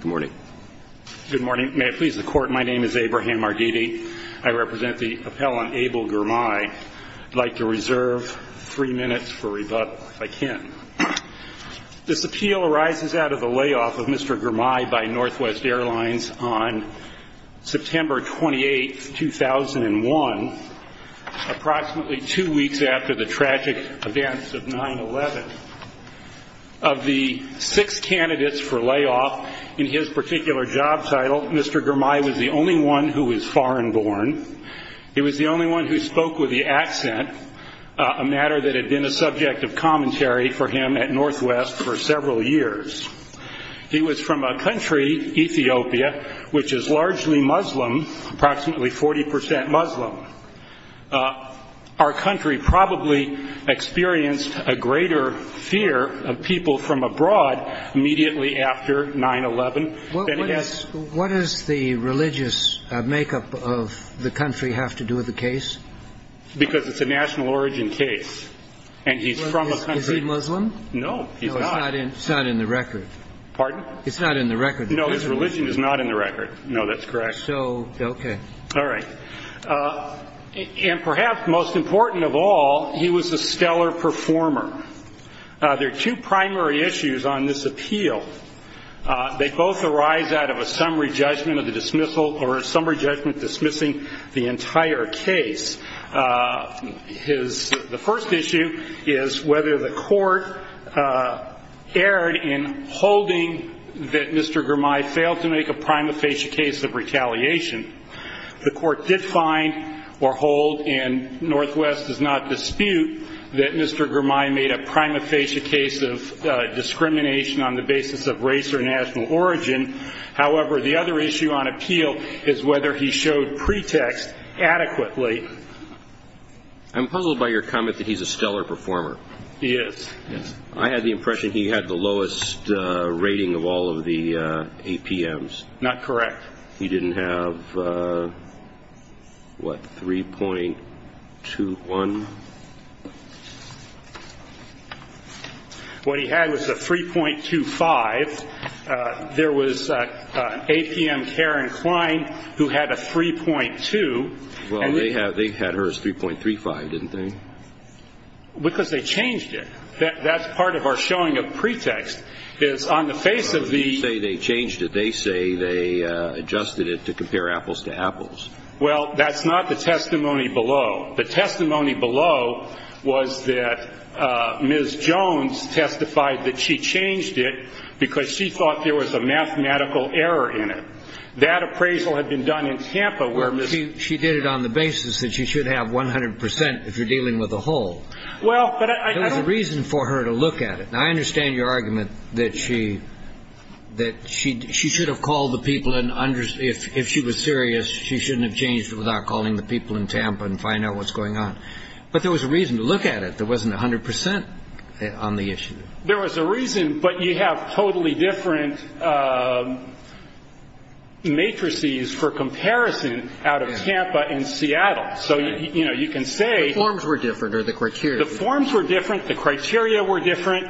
Good morning. May it please the Court, my name is Abraham Mardidi. I represent the appellant Abel Girmai. I'd like to reserve three minutes for rebuttal, if I can. This appeal arises out of the layoff of Mr. Girmai by NW Airlines on September 28, 2001, approximately two weeks after the tragic events of 9-11. Of the six candidates for layoff, in his particular job title, Mr. Girmai was the only one who was foreign-born. He was the only one who spoke with the accent, a matter that had been a subject of commentary for him at NW for several years. He was from a country, Ethiopia, which is largely Muslim, approximately 40 percent Muslim. Our country probably experienced a greater fear of people from abroad immediately after 9-11 than he has. What does the religious makeup of the country have to do with the case? Because it's a national origin case. And he's from a country. Is he Muslim? No, he's not. No, it's not in the record. Pardon? It's not in the record. No, his religion is not in the record. No, that's correct. So, okay. All right. And perhaps most important of all, he was a stellar performer. There are two primary issues on this appeal. They both arise out of a summary judgment of the dismissal or a summary judgment dismissing the entire case. His, the first issue is whether the court did find or hold, and NW does not dispute, that Mr. Girmay made a prima facie case of discrimination on the basis of race or national origin. However, the other issue on appeal is whether he showed pretext adequately. I'm puzzled by your comment that he's a stellar performer. He is. I had the impression he had the lowest rating of all of the APMs. Not correct. He didn't have, what, 3.21? What he had was a 3.25. There was an APM, Karen Klein, who had a 3.2. Well, they had hers 3.35, didn't they? Because they changed it. That's part of our showing of pretext, is on the face of the case. They say they changed it. They say they adjusted it to compare apples to apples. Well, that's not the testimony below. The testimony below was that Ms. Jones testified that she changed it because she thought there was a mathematical error in it. That appraisal had been done in Tampa where Ms. Well, she did it on the basis that she should have 100 percent if you're dealing with a whole. Well, but I don't There was a reason for her to look at it. Now, I understand your argument that she should have called the people and if she was serious, she shouldn't have changed it without calling the people in Tampa and find out what's going on. But there was a reason to look at it. There wasn't 100 percent on the issue. There was a reason, but you have totally different matrices for comparison out of Tampa and Seattle. So, you know, you can say The forms were different or the criteria The forms were different. The criteria were different.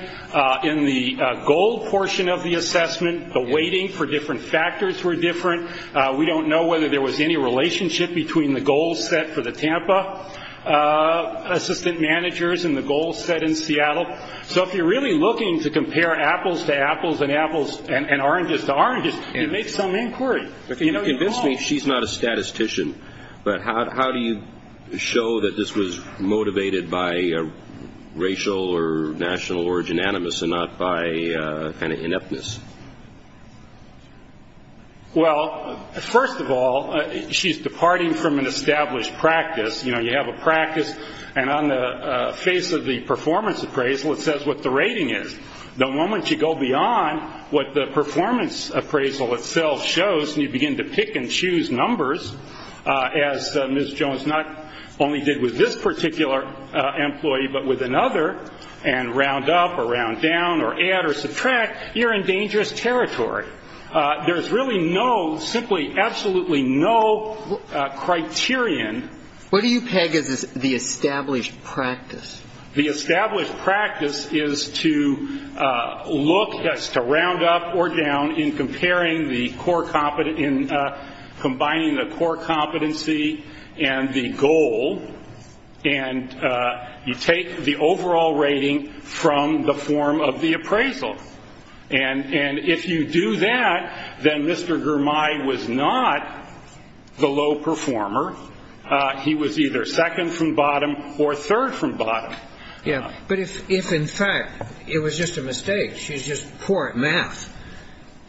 In the goal portion of the assessment, the weighting for different factors were different. We don't know whether there was any relationship between the goals set for the Tampa assistant managers and the goals set in Seattle. So if you're really looking to compare apples to apples and oranges to oranges, you make some inquiry. You convinced me she's not a statistician, but how do you show that this was motivated by racial or national origin animus and not by kind of ineptness? Well, first of all, she's departing from an established practice. You know, you have a practice and on the face of the performance appraisal, it says what the rating is. The moment you go beyond what the performance appraisal itself shows and you begin to pick and choose numbers, as Ms. Jones not only did with this particular employee, but with another and round up or round down or add or subtract, you're in dangerous territory. There's really no, simply absolutely no criterion What do you peg as the established practice? The established practice is to look as to round up or down in comparing the core, in combining the core competency and the goal, and you take the overall rating from the form of the appraisal. And if you do that, then Mr. Germay was not the low performer. He was either second from bottom or third from bottom. Yeah, but if in fact it was just a mistake, she's just poor at math,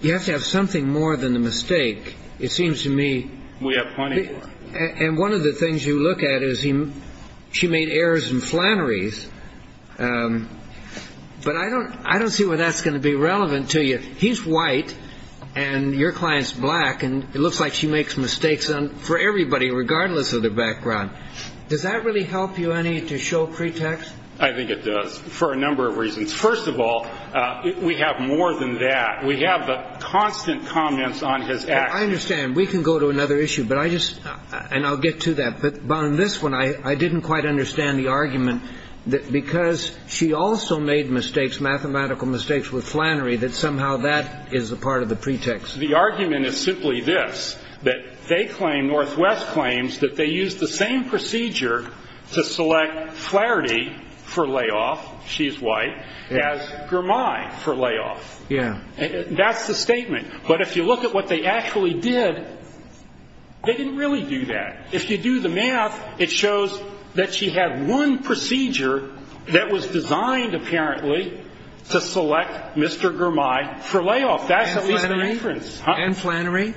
you have to have something more than a mistake. It seems to me We have plenty more And one of the things you look at is she made errors and flanneries, but I don't see where that's going to be relevant to you. He's white and your client's black and it looks like she makes mistakes for everybody regardless of their background. Does that really help you any to show pretext? I think it does for a number of reasons. First of all, we have more than that. We have the constant comments on his actions I understand. We can go to another issue, but I just and I'll get to that. But on this one, I didn't quite understand the argument because she also made mistakes, mathematical mistakes with flannery, that somehow that is a part of the pretext. The argument is simply this, that they claim, Northwest claims, that they used the same procedure to select Flaherty for layoff, she's white, as Gramey for layoff. That's the statement. But if you look at what they actually did, they didn't really do that. If you do the math, it shows that she had one procedure that was designed, apparently, to select Mr. Gramey for layoff. And flannery?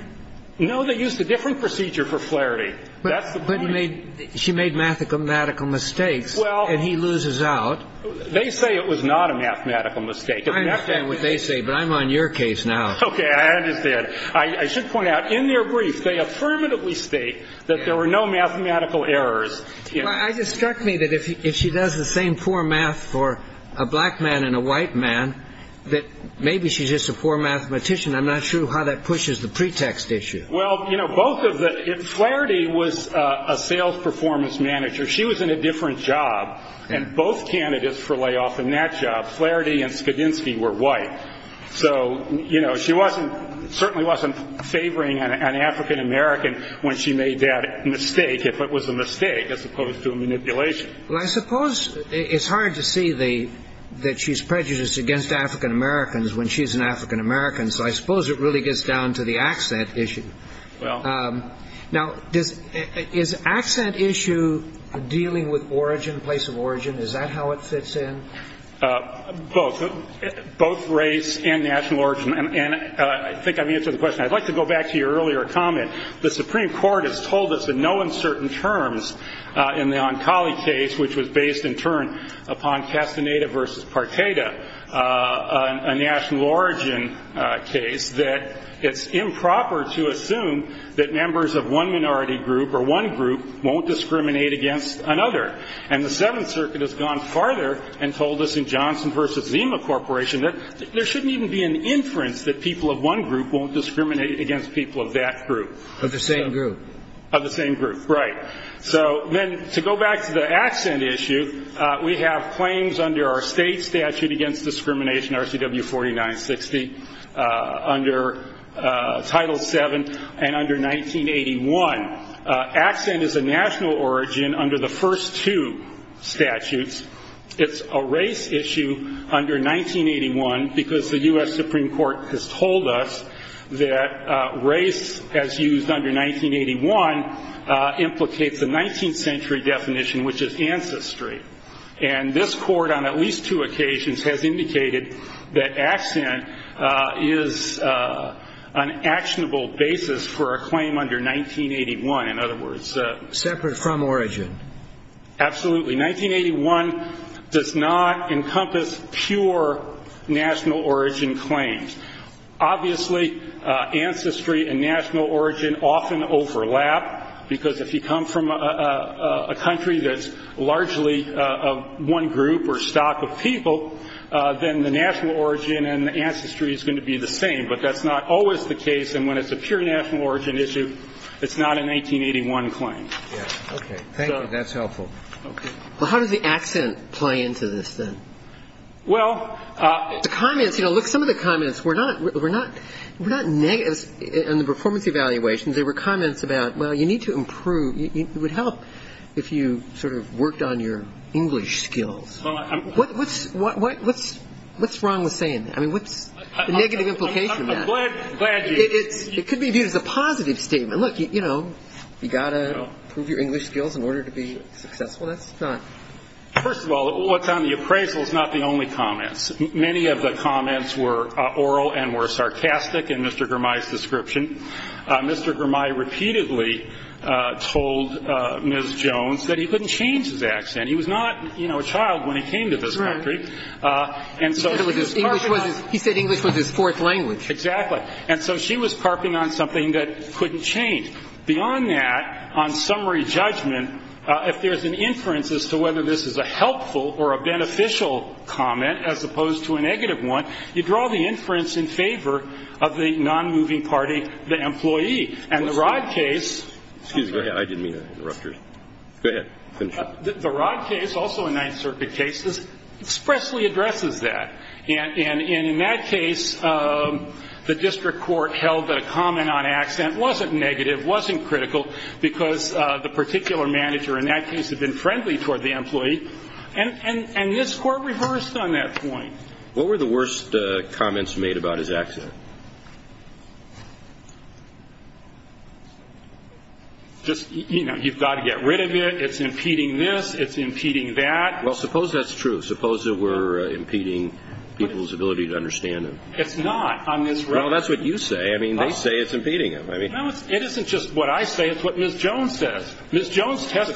No, they used a different procedure for Flaherty. That's the point. But she made mathematical mistakes and he loses out. They say it was not a mathematical mistake. I understand what they say, but I'm on your case now. Okay, I understand. I should point out, in their brief, they affirmatively state that there were no mathematical errors. It struck me that if she does the same poor math for a black man and a white man, that maybe she's just a poor mathematician. I'm not sure how that pushes the pretext issue. Well, you know, both of the, if Flaherty was a sales performance manager, she was in a different job. And both candidates for layoff in that job, Flaherty and Skidinski, were white. So, you know, she certainly wasn't favoring an African-American when she made that mistake, if it was a mistake, as opposed to a manipulation. Well, I suppose it's hard to see that she's prejudiced against African-Americans when she's an African-American. So I suppose it really gets down to the accent issue. Now, is accent issue dealing with origin, place of origin? Is that how it fits in? Both. Both race and national origin. And I think I've answered the question. I'd like to go back to your earlier comment. The Supreme Court has told us in no uncertain terms, in the Oncali case, which was based, in turn, upon Castaneda versus Parteta, a national origin case, that it's improper to assume that members of one minority group or one group won't discriminate against another. And the Seventh Circuit has gone farther and told us in Johnson versus Zima Corporation that there shouldn't even be an inference that people of one group won't discriminate against people of that group. Of the same group. Of the same group. Right. So then, to go back to the accent issue, we have claims under our state statute against discrimination, RCW 4960, under Title VII, and under 1981. Accent is a national origin under the first two statutes. It's a race issue under 1981 because the U.S. Supreme Court has told us that race, as used under 1981, implicates a 19th century definition, which is ancestry. And this Court, on at least two occasions, has indicated that accent is an actionable basis for a claim under 1981. In other words... Separate from origin. Absolutely. 1981 does not encompass pure national origin claims. Obviously, ancestry and national origin often overlap because if you come from a country that's largely one group or stock of people, then the national origin and the ancestry is going to be the same. But that's not always the case. And when it's a pure national origin issue, it's not a 1981 claim. Okay. Thank you. That's helpful. Well, how does the accent play into this, then? Well... The comments, you know, look, some of the comments were not negative in the performance evaluations. There were comments about, well, you need to improve. It would help if you sort of worked on your English skills. What's wrong with saying that? I mean, what's the negative implication of that? I'm glad you... It could be viewed as a positive statement. Look, you know, you've got to improve your English skills in order to be successful. That's not... First of all, what's on the appraisal is not the only comments. Many of the comments were oral and were sarcastic in Mr. Gramey's description. Mr. Gramey repeatedly told Ms. Jones that he couldn't change his accent. He was not, you know, a child when he came to this country. He said English was his fourth language. Exactly. And so she was carping on something that couldn't change. Beyond that, on summary judgment, if there's an inference as to whether this is a helpful or a beneficial comment as opposed to a negative one, you draw the inference in favor of the non-moving party, the employee. And the Rod case... Excuse me, I didn't mean to interrupt you. Go ahead. The Rod case, also a Ninth Circuit case, expressly addresses that. And in that case, the district court held that a comment on accent wasn't negative, wasn't critical, because the particular manager in that case had been friendly toward the employee. And this court reversed on that point. What were the worst comments made about his accent? Just, you know, you've got to get rid of it, it's impeding this, it's impeding that. Well, suppose that's true. Suppose that we're impeding people's ability to understand him. It's not. Well, that's what you say. I mean, they say it's impeding him. No, it isn't just what I say. It's what Ms. Jones says. Ms. Jones testified... It's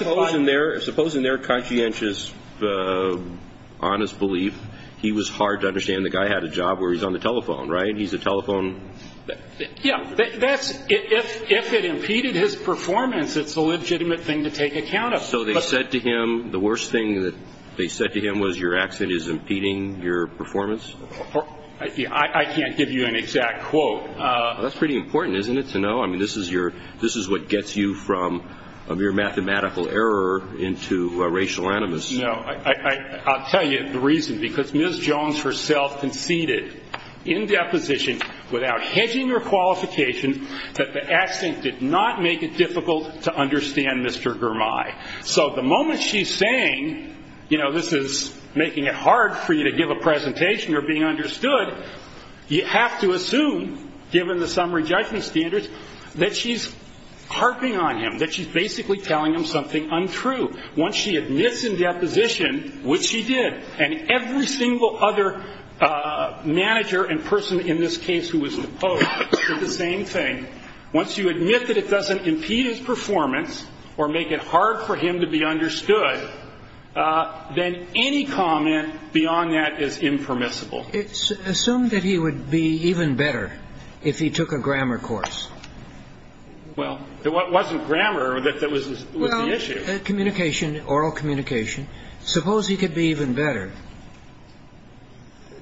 hard to understand. The guy had a job where he's on the telephone, right? He's a telephone... Yeah. That's... If it impeded his performance, it's a legitimate thing to take account of. So they said to him... The worst thing that they said to him was your accent is impeding your performance? I can't give you an exact quote. That's pretty important, isn't it, to know? I mean, this is what gets you from a mere mathematical error into a racial animus. No. I'll tell you the reason. Because Ms. Jones herself conceded, in deposition, without hedging her qualification, that the accent did not make it difficult to understand Mr. Girmay. So the moment she's saying, you know, this is making it hard for you to give a presentation or being understood, you have to assume, given the summary judgment standards, that she's harping on him, that she's basically telling him something untrue. Once she admits in deposition, which she did, and every single other manager and person in this case who was opposed did the same thing, once you admit that it doesn't impede his performance or make it hard for him to be understood, then any comment beyond that is impermissible. Assume that he would be even better if he took a grammar course. Well, it wasn't grammar that was the issue. Communication, oral communication. Suppose he could be even better.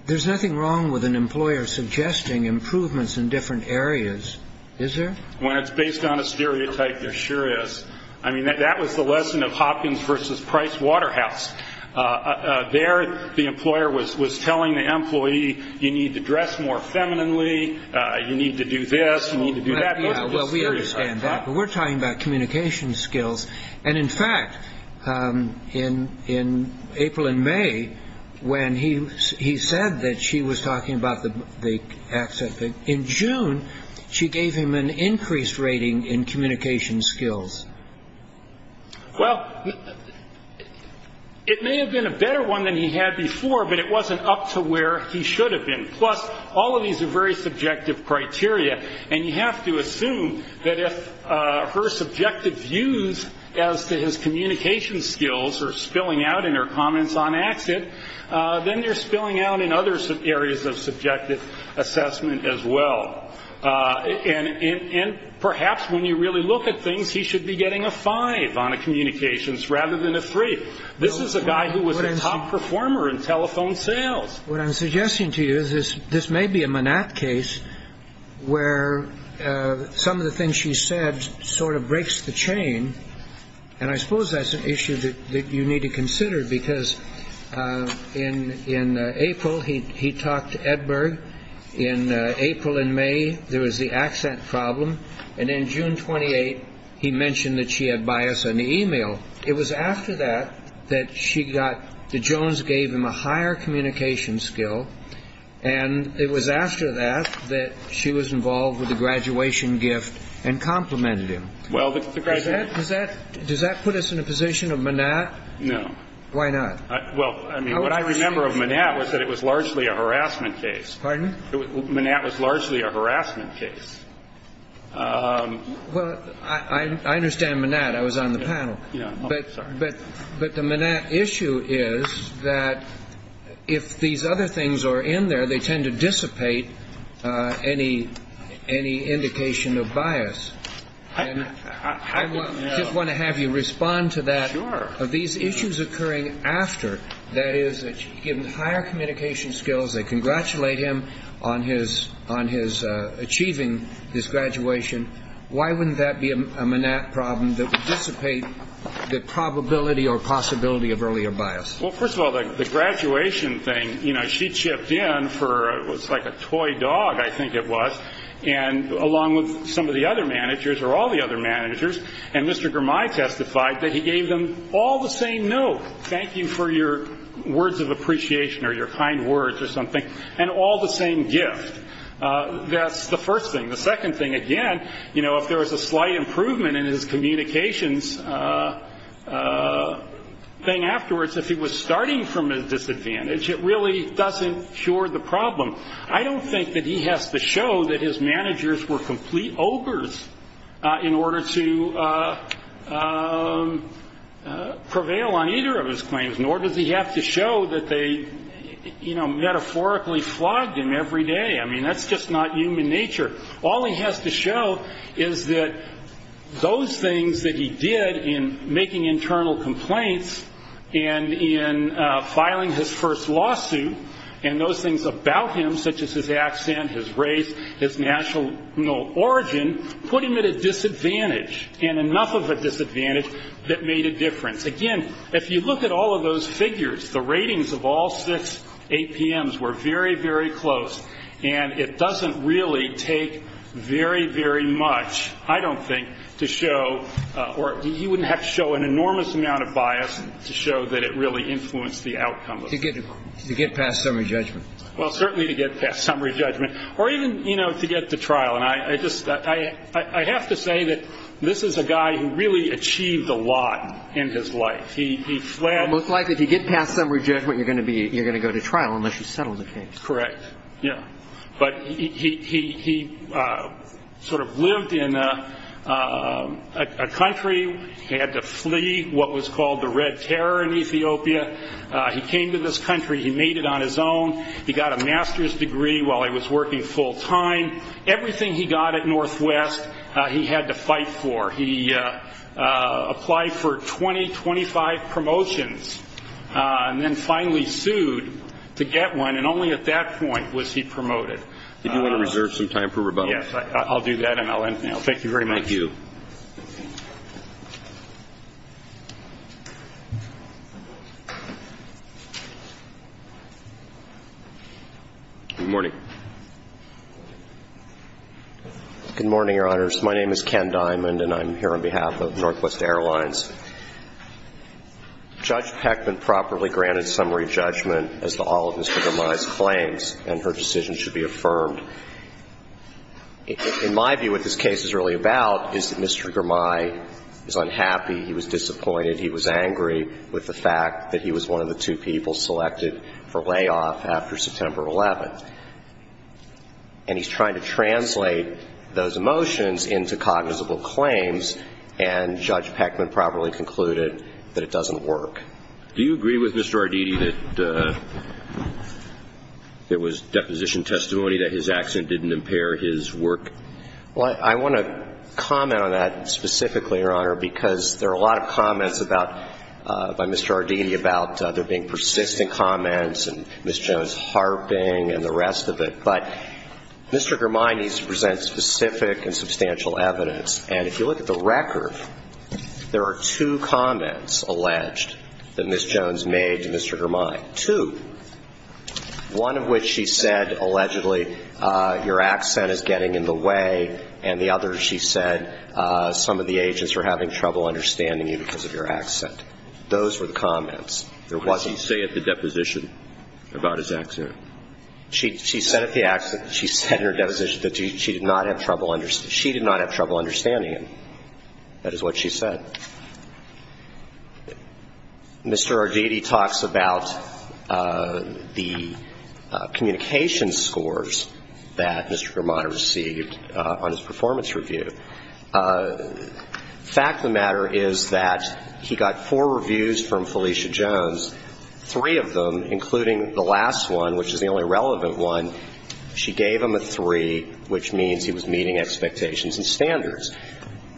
There's nothing wrong with an employer suggesting improvements in different areas, is there? When it's based on a stereotype, there sure is. I mean, that was the lesson of Hopkins versus Price Waterhouse. There, the employer was telling the employee, you need to dress more femininely, you need to do this, you need to do that. Well, we understand that. But we're talking about communication skills. And in fact, in April and May, when he said that she was talking about the accent thing, in June, she gave him an increased rating in communication skills. Well, it may have been a better one than he had before, but it wasn't up to where he should have been. Plus, all of these are very subjective criteria, and you have to assume that if her subjective views as to his communication skills are spilling out in her comments on accent, then they're spilling out in other areas of subjective assessment as well. And perhaps when you really look at things, he should be getting a five on communications rather than a three. This is a guy who was a top performer in telephone sales. What I'm suggesting to you is this may be a Manat case where some of the things she said sort of breaks the chain. And I suppose that's an issue that you need to consider because in April, he talked to Edberg. In April and May, there was the accent problem. And in June 28, he mentioned that she had bias on the e-mail. It was after that that she got the Jones gave him a higher communication skill. And it was after that that she was involved with the graduation gift and complimented him. Well, the graduate... Does that put us in a position of Manat? No. Why not? Well, I mean, what I remember of Manat was that it was largely a harassment case. Pardon? Manat was largely a harassment case. Well, I understand Manat. I was on the panel. Yeah. But the Manat issue is that if these other things are in there, they tend to dissipate any indication of bias. And I just want to have you respond to that. Sure. These issues occurring after, that is, that she gave him higher communication skills, they congratulate him on his achieving his graduation. Why wouldn't that be a Manat problem that would dissipate the probability or possibility of earlier bias? Well, first of all, the graduation thing, you know, she chipped in for what's like a toy dog, I think it was, and along with some of the other managers or all the other managers, and Mr. Germay testified that he gave them all the same note, thank you for your words of appreciation or your kind words or something, and all the same gift. That's the first thing. The second thing, again, you know, if there was a slight improvement in his communications thing afterwards, if he was starting from a disadvantage, it really doesn't cure the problem. I don't think that he has to show that his managers were complete ogres in order to prevail on either of his claims, nor does he have to show that they, you know, metaphorically flogged him every day. I mean, that's just not human nature. All he has to show is that those things that he did in making internal complaints and in filing his first lawsuit, and those things about him, such as his accent, his race, his national origin, put him at a disadvantage, and enough of a disadvantage that made a difference. Again, if you look at all of those figures, the ratings of all six APMs were very, very close, and it doesn't really take very, very much, I don't think, to show, or he wouldn't have to show an enormous amount of bias to show that it really influenced the outcome of the court. To get past summary judgment. Well, certainly to get past summary judgment, or even, you know, to get to trial. And I just, I have to say that this is a guy who really achieved a lot in his life. He fled. It looks like if you get past summary judgment, you're going to go to trial unless you settle the case. Correct, yeah. But he sort of lived in a country. He had to flee what was called the Red Terror in Ethiopia. He came to this country. He made it on his own. He got a master's degree while he was working full time. Everything he got at Northwest, he had to fight for. He applied for 20, 25 promotions, and then finally sued to get one, and only at that point was he promoted. Did you want to reserve some time for rebuttal? Yes, I'll do that, and I'll end now. Thank you very much. Thank you. Good morning. Good morning, Your Honors. My name is Ken Diamond, and I'm here on behalf of Northwest Airlines. Judge Peckman properly granted summary judgment as to all of Mr. Gramey's claims, and her decision should be affirmed. In my view, what this case is really about is that Mr. Gramey is unhappy. He was disappointed. He was angry with the fact that he was one of the two people selected for layoff after September 11th. And he's trying to translate those emotions into cognizable claims, and Judge Peckman properly concluded that it doesn't work. Do you agree with Mr. Arditi that it was deposition testimony that his accent didn't impair his work? Well, I want to comment on that specifically, Your Honor, because there are a lot of comments by Mr. Arditi about there being persistent comments and Ms. Jones harping and the rest of it. But Mr. Gramey needs to present specific and substantial evidence, and if you look at the record, there are two comments alleged that Ms. Jones made to Mr. Gramey. Two, one of which she said, allegedly, your accent is getting in the way, and the other she said some of the agents were having trouble understanding you because of your accent. Those were the comments. What does he say at the deposition about his accent? She said at the accident, she said at her deposition that she did not have trouble understanding him. That is what she said. Mr. Arditi talks about the communication scores that Mr. Gramey received on his performance review. The fact of the matter is that he got four reviews from Felicia Jones, three of them, including the last one, which is the only relevant one. She gave him a three, which means he was meeting expectations and standards.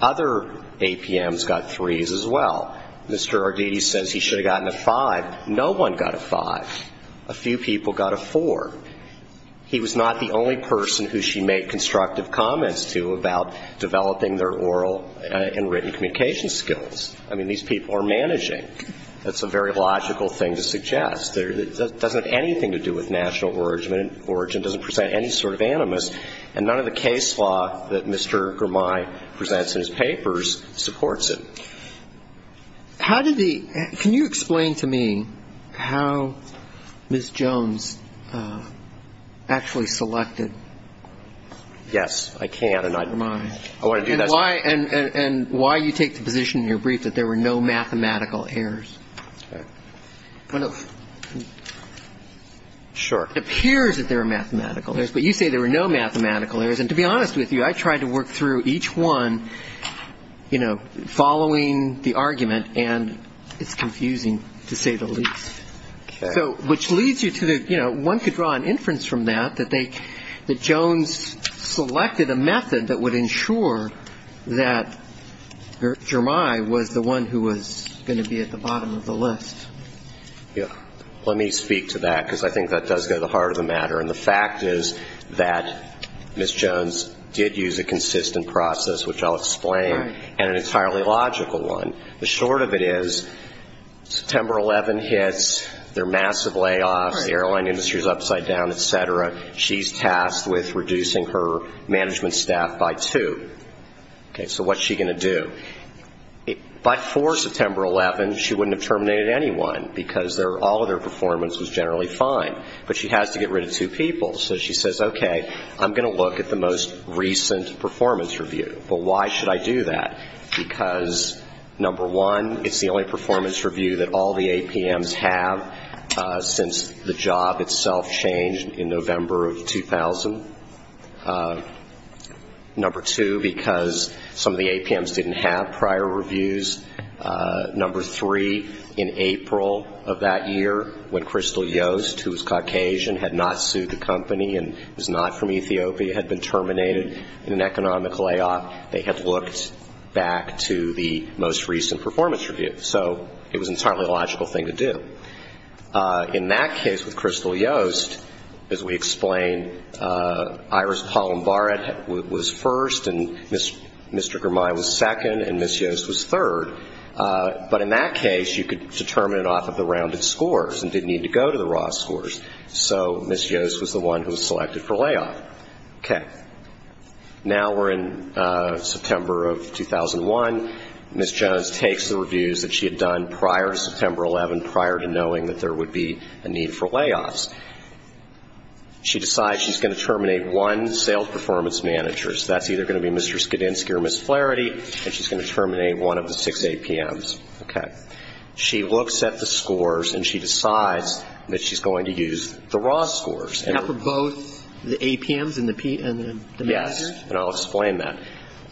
Other APMs got threes as well. Mr. Arditi says he should have gotten a five. No one got a five. A few people got a four. He was not the only person who she made constructive comments to about developing their oral and written communication skills. I mean, these people are managing. That's a very logical thing to suggest. It doesn't have anything to do with national origin. It doesn't present any sort of animus. And none of the case law that Mr. Gramey presents in his papers supports it. Can you explain to me how Ms. Jones actually selected Mr. Gramey? Yes, I can. And why you take the position in your brief that there were no mathematical errors. Sure. It appears that there are mathematical errors, but you say there were no mathematical errors. And to be honest with you, I tried to work through each one, you know, following the argument, and it's confusing to say the least. Okay. So which leads you to the, you know, one could draw an inference from that, that Jones selected a method that would ensure that Gramey was the one who was going to be at the bottom of the list. Yeah. Let me speak to that, because I think that does go to the heart of the matter. And the fact is that Ms. Jones did use a consistent process, which I'll explain, and an entirely logical one. The short of it is September 11 hits, there are massive layoffs, the airline industry is upside down, et cetera. She's tasked with reducing her management staff by two. Okay. So what's she going to do? By 4 September 11, she wouldn't have terminated anyone, because all of their performance was generally fine. But she has to get rid of two people. So she says, okay, I'm going to look at the most recent performance review. But why should I do that? Because, number one, it's the only performance review that all the APMs have since the job itself changed in November of 2000. Number two, because some of the APMs didn't have prior reviews. Number three, in April of that year, when Crystal Yost, who was Caucasian, had not sued the company and was not from Ethiopia, had been terminated in an economic layoff, they had looked back to the most recent performance review. In that case, with Crystal Yost, as we explained, Iris Palombaret was first, and Mr. Germain was second, and Ms. Yost was third. But in that case, you could determine it off of the rounded scores and didn't need to go to the raw scores. So Ms. Yost was the one who was selected for layoff. Okay. Now we're in September of 2001. Ms. Jones takes the reviews that she had done prior to September 11, prior to the fact that there would be a need for layoffs. She decides she's going to terminate one sales performance manager. So that's either going to be Mr. Skidinski or Ms. Flaherty, and she's going to terminate one of the six APMs. Okay. She looks at the scores, and she decides that she's going to use the raw scores. And for both the APMs and the manager? Yes. And I'll explain that.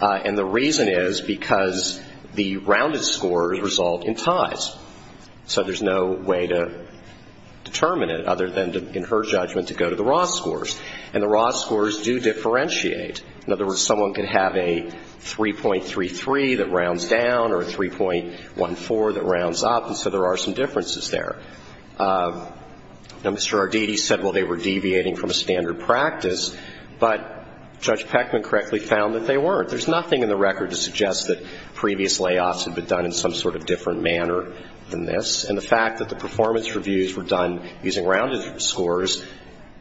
And the reason is because the rounded scores result in ties. So there's no way to determine it other than, in her judgment, to go to the raw scores. And the raw scores do differentiate. In other words, someone can have a 3.33 that rounds down or a 3.14 that rounds up, and so there are some differences there. Now, Mr. Arditi said, well, they were deviating from a standard practice, but Judge Peckman correctly found that they weren't. There's nothing in the record to suggest that previous layoffs had been done in some sort of different manner than this. And the fact that the performance reviews were done using rounded scores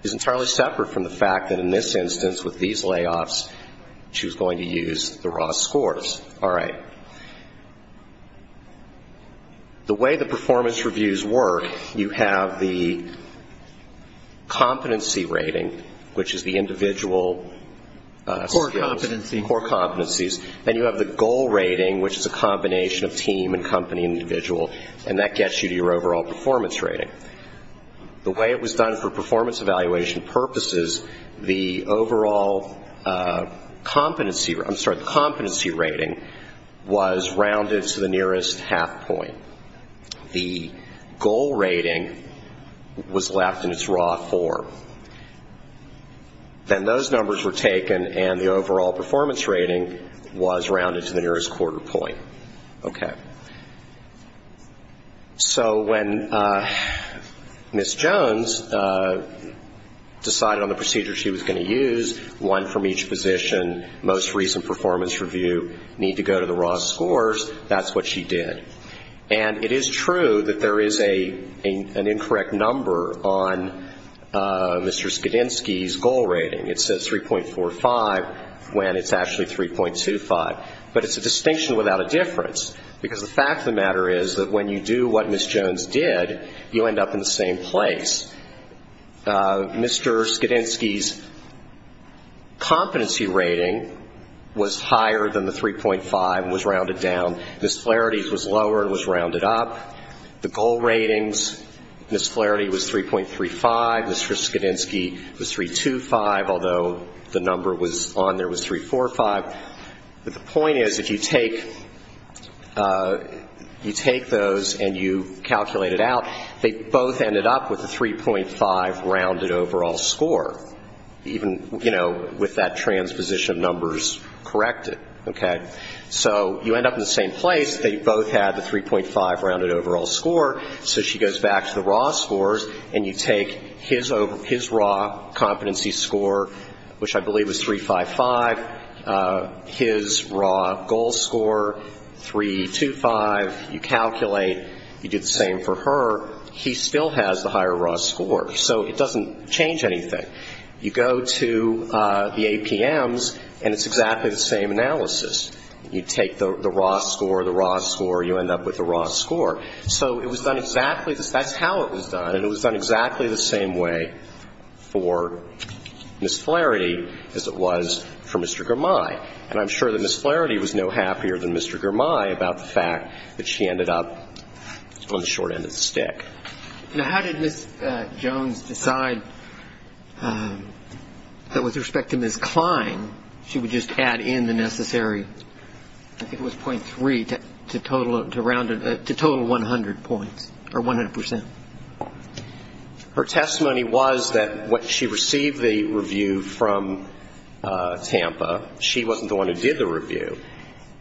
is entirely separate from the fact that, in this instance, with these layoffs, she was going to use the raw scores. All right. The way the performance reviews work, you have the competency rating, which is the individual scores. Core competencies. Core competencies. Then you have the goal rating, which is a combination of team and company and individual. And that gets you to your overall performance rating. The way it was done for performance evaluation purposes, the overall competency rating was rounded to the nearest half point. The goal rating was left in its raw form. Then those numbers were taken, and the overall performance rating was rounded to the nearest quarter point. Okay. So when Ms. Jones decided on the procedure she was going to use, one from each position, most recent performance review, need to go to the raw scores, that's what she did. And it is true that there is an incorrect number on Mr. Skidinski's goal rating. It says 3.45 when it's actually 3.25. But it's a distinction without a difference. Because the fact of the matter is that when you do what Ms. Jones did, you end up in the same place. Mr. Skidinski's competency rating was higher than the 3.5, was rounded down. Ms. Flaherty's was lower and was rounded up. The goal ratings, Ms. Flaherty was 3.35. Mr. Skidinski was 3.25, although the number on there was 3.45. But the point is, if you take those and you calculate it out, they both ended up with a 3.5 rounded overall score, even with that transposition of numbers corrected. Okay. So you end up in the same place. They both had the 3.5 rounded overall score. So she goes back to the raw scores and you take his raw competency score, which I believe was 3.55, his raw goal score, 3.25, you calculate, you do the same for her, he still has the higher raw score. So it doesn't change anything. You go to the APMs and it's exactly the same analysis. You take the raw score, the raw score, you end up with the raw score. So it was done exactly the same. That's how it was done. And it was done exactly the same way for Ms. Flaherty as it was for Mr. Girmay. And I'm sure that Ms. Flaherty was no happier than Mr. Girmay about the fact that she ended up on the short end of the stick. Now, how did Ms. Jones decide that with respect to Ms. Klein, she would just add in the necessary, I think it was .3, to total 100 points, or 100 percent? Her testimony was that when she received the review from Tampa, she wasn't the one who did the review.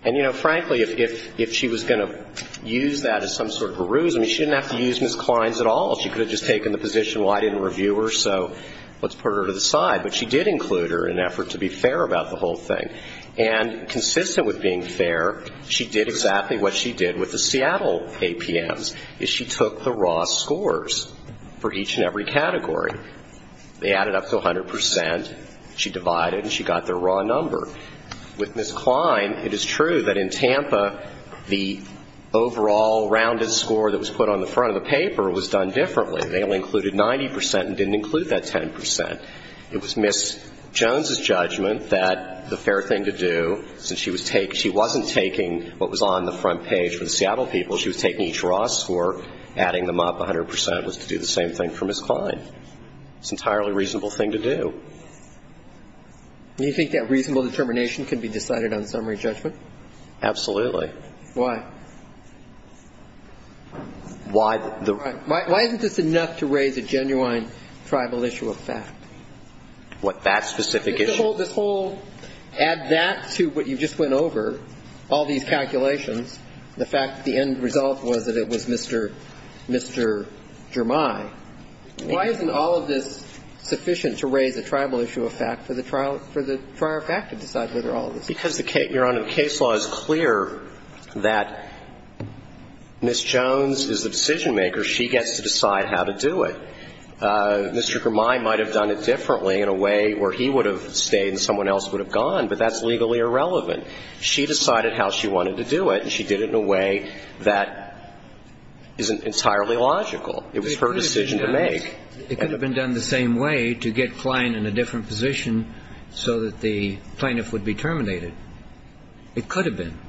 And, you know, frankly, if she was going to use that as some sort of a ruse, I mean, she didn't have to use Ms. Klein's at all. She could have just taken the position, well, I didn't review her, so let's put her to the side. But she did include her in an effort to be fair about the whole thing. And consistent with being fair, she did exactly what she did with the Seattle APMs, is she took the raw scores for each and every category. They added up to 100 percent. She divided and she got their raw number. With Ms. Klein, it is true that in Tampa, the overall rounded score that was put on the front of the paper was done differently. They only included 90 percent and didn't include that 10 percent. It was Ms. Jones' judgment that the fair thing to do, since she was taking – she wasn't taking what was on the front page for the Seattle people. She was taking each raw score, adding them up 100 percent, was to do the same thing for Ms. Klein. It's an entirely reasonable thing to do. Do you think that reasonable determination can be decided on summary judgment? Absolutely. Why? Why the – Why isn't this enough to raise a genuine tribal issue of fact? What, that specific issue? This whole – add that to what you just went over, all these calculations, the fact that the end result was that it was Mr. Jermai. Why isn't all of this sufficient to raise a tribal issue of fact for the trial – for the prior fact to decide whether all of this is true? Because, Your Honor, the case law is clear that Ms. Jones is the decision-maker. She gets to decide how to do it. Mr. Jermai might have done it differently in a way where he would have stayed and someone else would have gone, but that's legally irrelevant. She decided how she wanted to do it, and she did it in a way that is entirely logical. It was her decision to make. It could have been done the same way, to get Klein in a different position so that the plaintiff would be terminated. It could have been.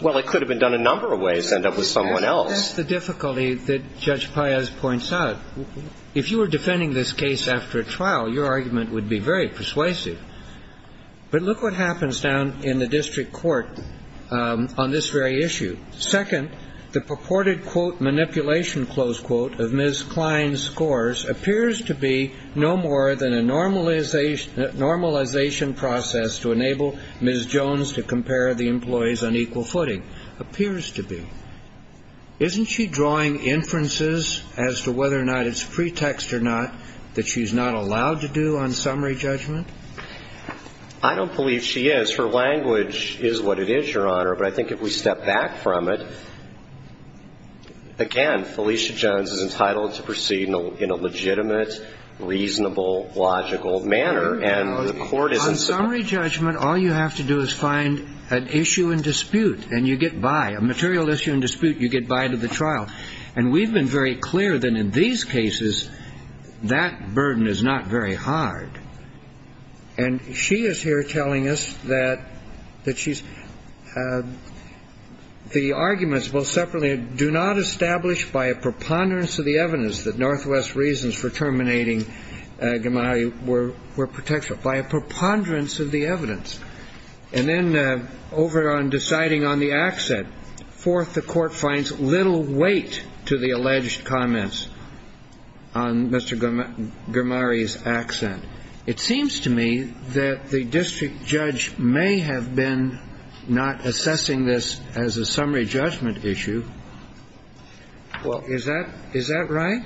Well, it could have been done a number of ways to end up with someone else. That's the difficulty that Judge Paez points out. If you were defending this case after a trial, your argument would be very persuasive. But look what happens down in the district court on this very issue. Second, the purported, quote, manipulation, close quote, of Ms. Klein's scores appears to be no more than a normalization process to enable Ms. Jones to compare the employees on equal footing. It appears to be. Isn't she drawing inferences as to whether or not it's pretext or not that she's not allowed to do on summary judgment? I don't believe she is. Her language is what it is, Your Honor. But I think if we step back from it, again, Felicia Jones is entitled to proceed in a legitimate, reasonable, logical manner. And the court isn't so... On summary judgment, all you have to do is find an issue in dispute, and you get by. A material issue in dispute, you get by to the trial. And we've been very clear that in these cases, that burden is not very hard. And she is here telling us that she's... The arguments, both separately, do not establish by a preponderance of the evidence that Northwest's reasons for terminating Gamaliel were protection. By a preponderance of the evidence. And then, over on deciding on the accent, fourth, the court finds little weight to the alleged comments on Mr. Grimari's accent. It seems to me that the district judge may have been not assessing this as a summary judgment issue. Is that right?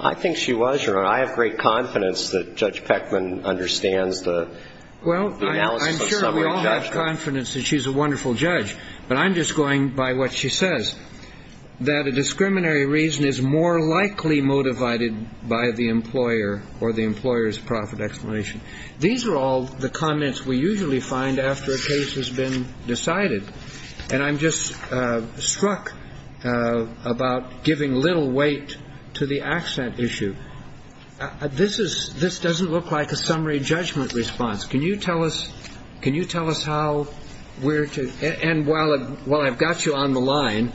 I think she was, Your Honor. I have great confidence that Judge Peckman understands the analysis. Well, I'm sure we all have confidence that she's a wonderful judge. But I'm just going by what she says. That a discriminatory reason is more likely motivated by the employer, or the employer's profit explanation. These are all the comments we usually find after a case has been decided. And I'm just struck about giving little weight to the accent issue. This doesn't look like a summary judgment response. Can you tell us how we're to... And while I've got you on the line,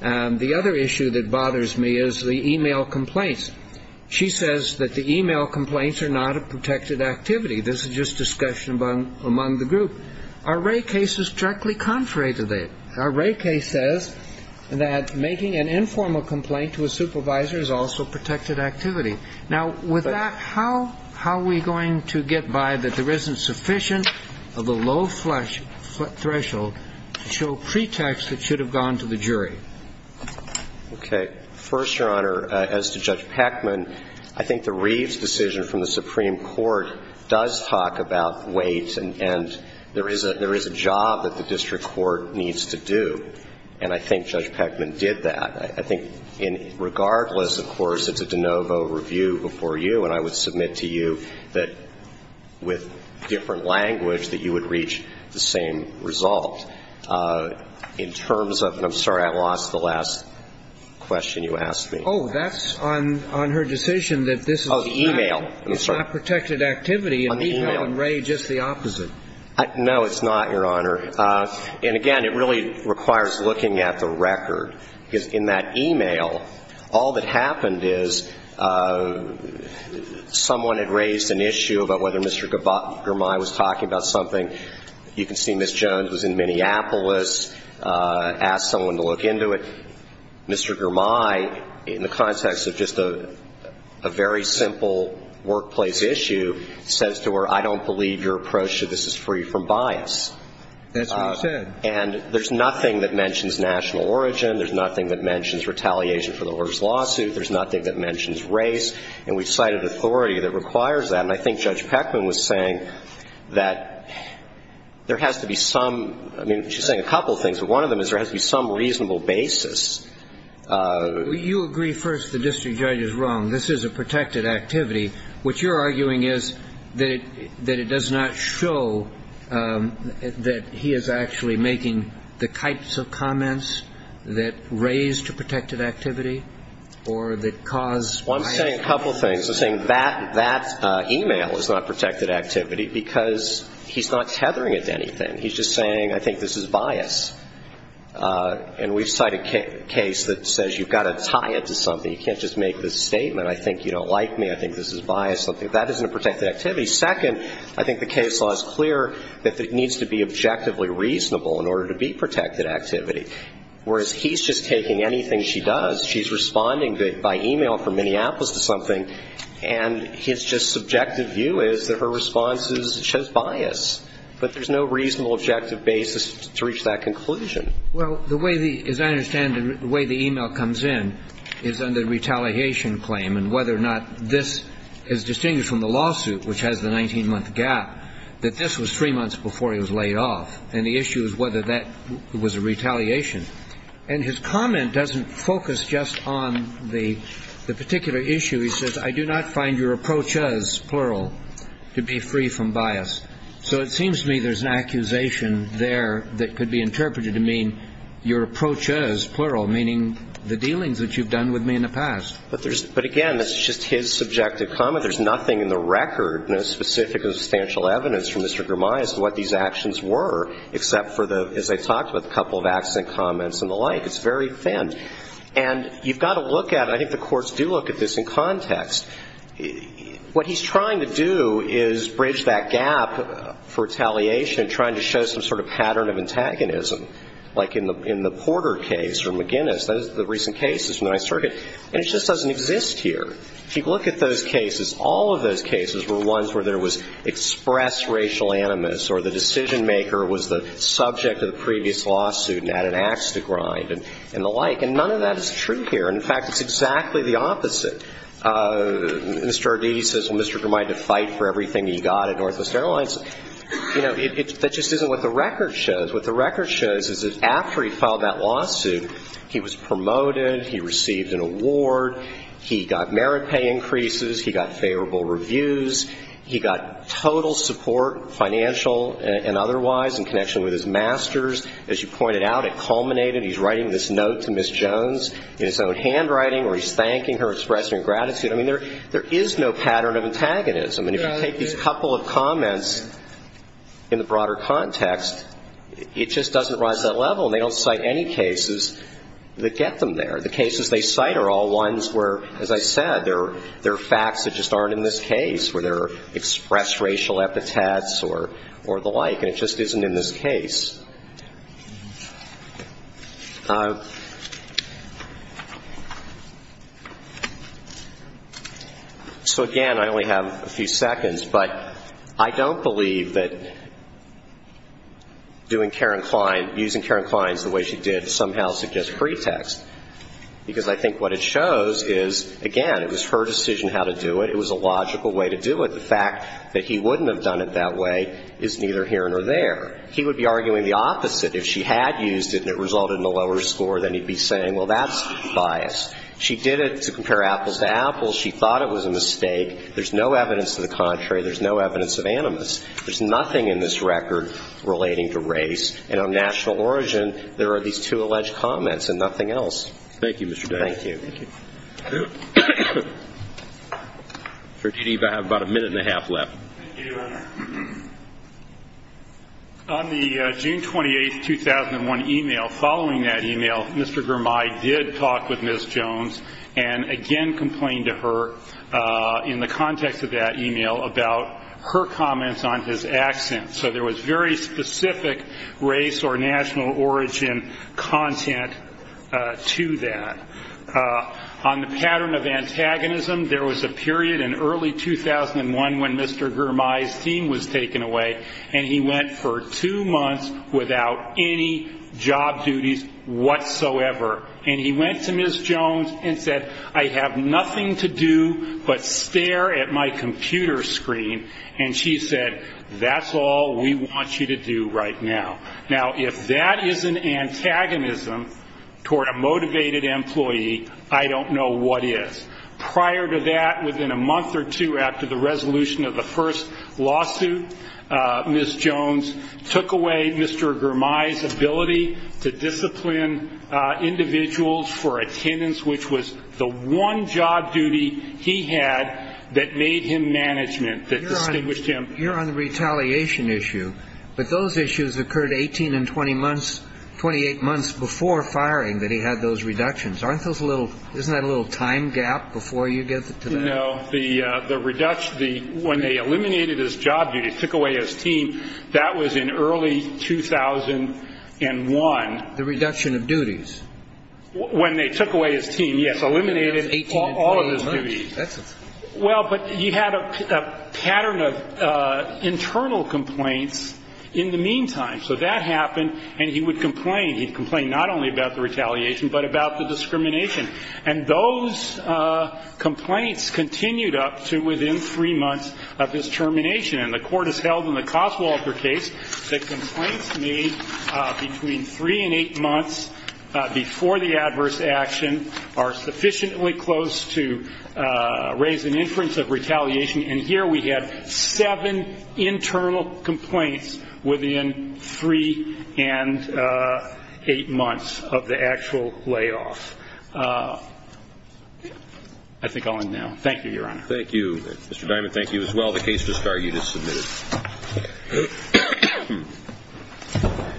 the other issue that bothers me is the e-mail complaints. She says that the e-mail complaints are not a protected activity. This is just discussion among the group. Our Wray case is directly contrary to that. Our Wray case says that making an informal complaint to a supervisor is also protected activity. Now, with that, how are we going to get by that there isn't sufficient of a low threshold to show pretext that should have gone to the jury? Okay. First, Your Honor, as to Judge Peckman, I think the Reeves decision from the Supreme Court does talk about weight, and there is a job that the district court needs to do. And I think Judge Peckman did that. I think regardless, of course, it's a de novo review before you, and I would submit to you that with different language that you would reach the same result. In terms of... I'm sorry, I lost the last question you asked me. Oh, that's on her decision that this is... Oh, the e-mail. It's not protected activity. On the e-mail. And we have on Wray just the opposite. No, it's not, Your Honor. And again, it really requires looking at the record because in that e-mail, all that happened is someone had raised an issue about whether Mr. Germay was talking about something. You can see Ms. Jones was in Minneapolis, asked someone to look into it. Mr. Germay, in the context of just a very simple workplace issue, says to her, I don't believe your approach to this is free from bias. That's what he said. And there's nothing that mentions national origin. There's nothing that mentions retaliation for the Orr's lawsuit. There's nothing that mentions race. And we've cited authority that requires that. And I think Judge Peckman was saying that there has to be some... I mean, she's saying a couple of things, but one of them is there has to be some reasonable basis. You agree first the district judge is wrong. This is a protected activity. What you're arguing is that it does not show that he is actually making the types of comments that raise to protected activity or that cause bias. Well, I'm saying a couple of things. I'm saying that e-mail is not protected activity because he's not tethering it to anything. He's just saying, I think this is bias. And we've cited a case that says you've got to tie it to something. You can't just make this statement. I think you don't like me. I think this is bias. I don't think that is a protected activity. Second, I think the case law is clear that it needs to be objectively reasonable in order to be protected activity. Whereas he's just taking anything she does. She's responding by e-mail from Minneapolis to something. And his just subjective view is that her response shows bias. But there's no reasonable objective basis to reach that conclusion. Well, as I understand it, the way the e-mail comes in is under retaliation claim. And whether or not this is distinguished from the lawsuit, which has the 19-month gap, that this was three months before he was laid off. And the issue is whether that was a retaliation. And his comment doesn't focus just on the particular issue. He says, I do not find your approach as, plural, to be free from bias. So it seems to me there's an accusation there that could be interpreted to mean your approach as, plural, meaning the dealings that you've done with me in the past. But again, that's just his subjective comment. There's nothing in the record, no specific substantial evidence from Mr. Girmayas to what these actions were, except for, as I talked about, a couple of accent comments and the like. It's very thin. And you've got to look at it. I think the courts do look at this in context. What he's trying to do is bridge that gap for retaliation and trying to show some sort of pattern of antagonism. Like in the Porter case or McGinnis, those are the recent cases from the 9th Circuit. And it just doesn't exist here. If you look at those cases, all of those cases were ones where there was expressed racial animus or the decision maker was the subject of the previous lawsuit and had an ax to grind and the like. And none of that is true here. And in fact, it's exactly the opposite. Mr. Arditi says, well, Mr. Girmayas had to fight for everything he got at Northwest Airlines. You know, that just isn't what the record shows. What the record shows is that after he filed that lawsuit, he was promoted, he received an award, he got merit pay increases, he got favorable reviews, he got total support, financial and otherwise, in connection with his master's. As you pointed out, it culminated. He's writing this note to Ms. Jones in his own handwriting where he's thanking her, expressing gratitude. I mean, there is no pattern of antagonism. And if you take these couple of comments in the broader context, it just doesn't rise to that level. And they don't cite any cases that get them there. The cases they cite are all ones where, as I said, there are facts that just aren't in this case where there are expressed racial epithets or the like, and it just isn't in this case. So again, I only have a few seconds, but I don't believe that using Karen Klein the way she did somehow suggests pretext. Because I think what it shows is, again, it was her decision how to do it. It was a logical way to do it. The fact that he wouldn't have done it that way is neither here nor there. He would be arguing the opposite. If she had used it and it resulted in a lower score, then he'd be saying, well, that's biased. She did it to compare apples to apples. She thought it was a mistake. There's no evidence to the contrary. There's no evidence of animus. There's nothing in this record relating to race. And on national origin, there are these two alleged comments and nothing else. Thank you, Mr. Davis. Thank you. Mr. Dede, I have about a minute and a half left. Thank you. On the June 28, 2001, email, following that email, Mr. Girmay did talk with Ms. Jones and again complained to her in the context of that email about her comments on his accent. So there was very specific race or national origin content to that. On the pattern of antagonism, there was a period in early 2001 when Mr. Girmay's team was taken away and he went for two months without any job duties whatsoever. And he went to Ms. Jones and said, I have nothing to do but stare at my computer screen. And she said, that's all we want you to do right now. Now, if that is an antagonism toward a motivated employee, I don't know what is. Prior to that, within a month or two after the resolution of the first lawsuit, Ms. Jones took away Mr. Girmay's ability to discipline individuals for attendance, which was the one job duty he had that made him management, that distinguished him. You're on the retaliation issue, but those issues occurred 18 and 28 months before firing, that he had those reductions. Isn't that a little time gap before you get to that? No. When they eliminated his job duties, took away his team, that was in early 2001. The reduction of duties. When they took away his team, yes. Eliminated all of his duties. Well, but he had a pattern of internal complaints in the meantime. So that happened, and he would complain. He'd complain not only about the retaliation, but about the discrimination. And those complaints continued up to within three months of his termination. And the court has held in the Coswalter case that complaints made between three and eight months before the adverse action are sufficiently close to raise an inference of retaliation. And here we have seven internal complaints within three and eight months of the actual layoff. I think I'll end now. Thank you, Your Honor. Thank you. Mr. Diamond, thank you as well. The case is discarded. It is submitted.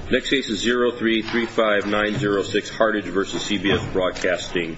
Next case is 0335906,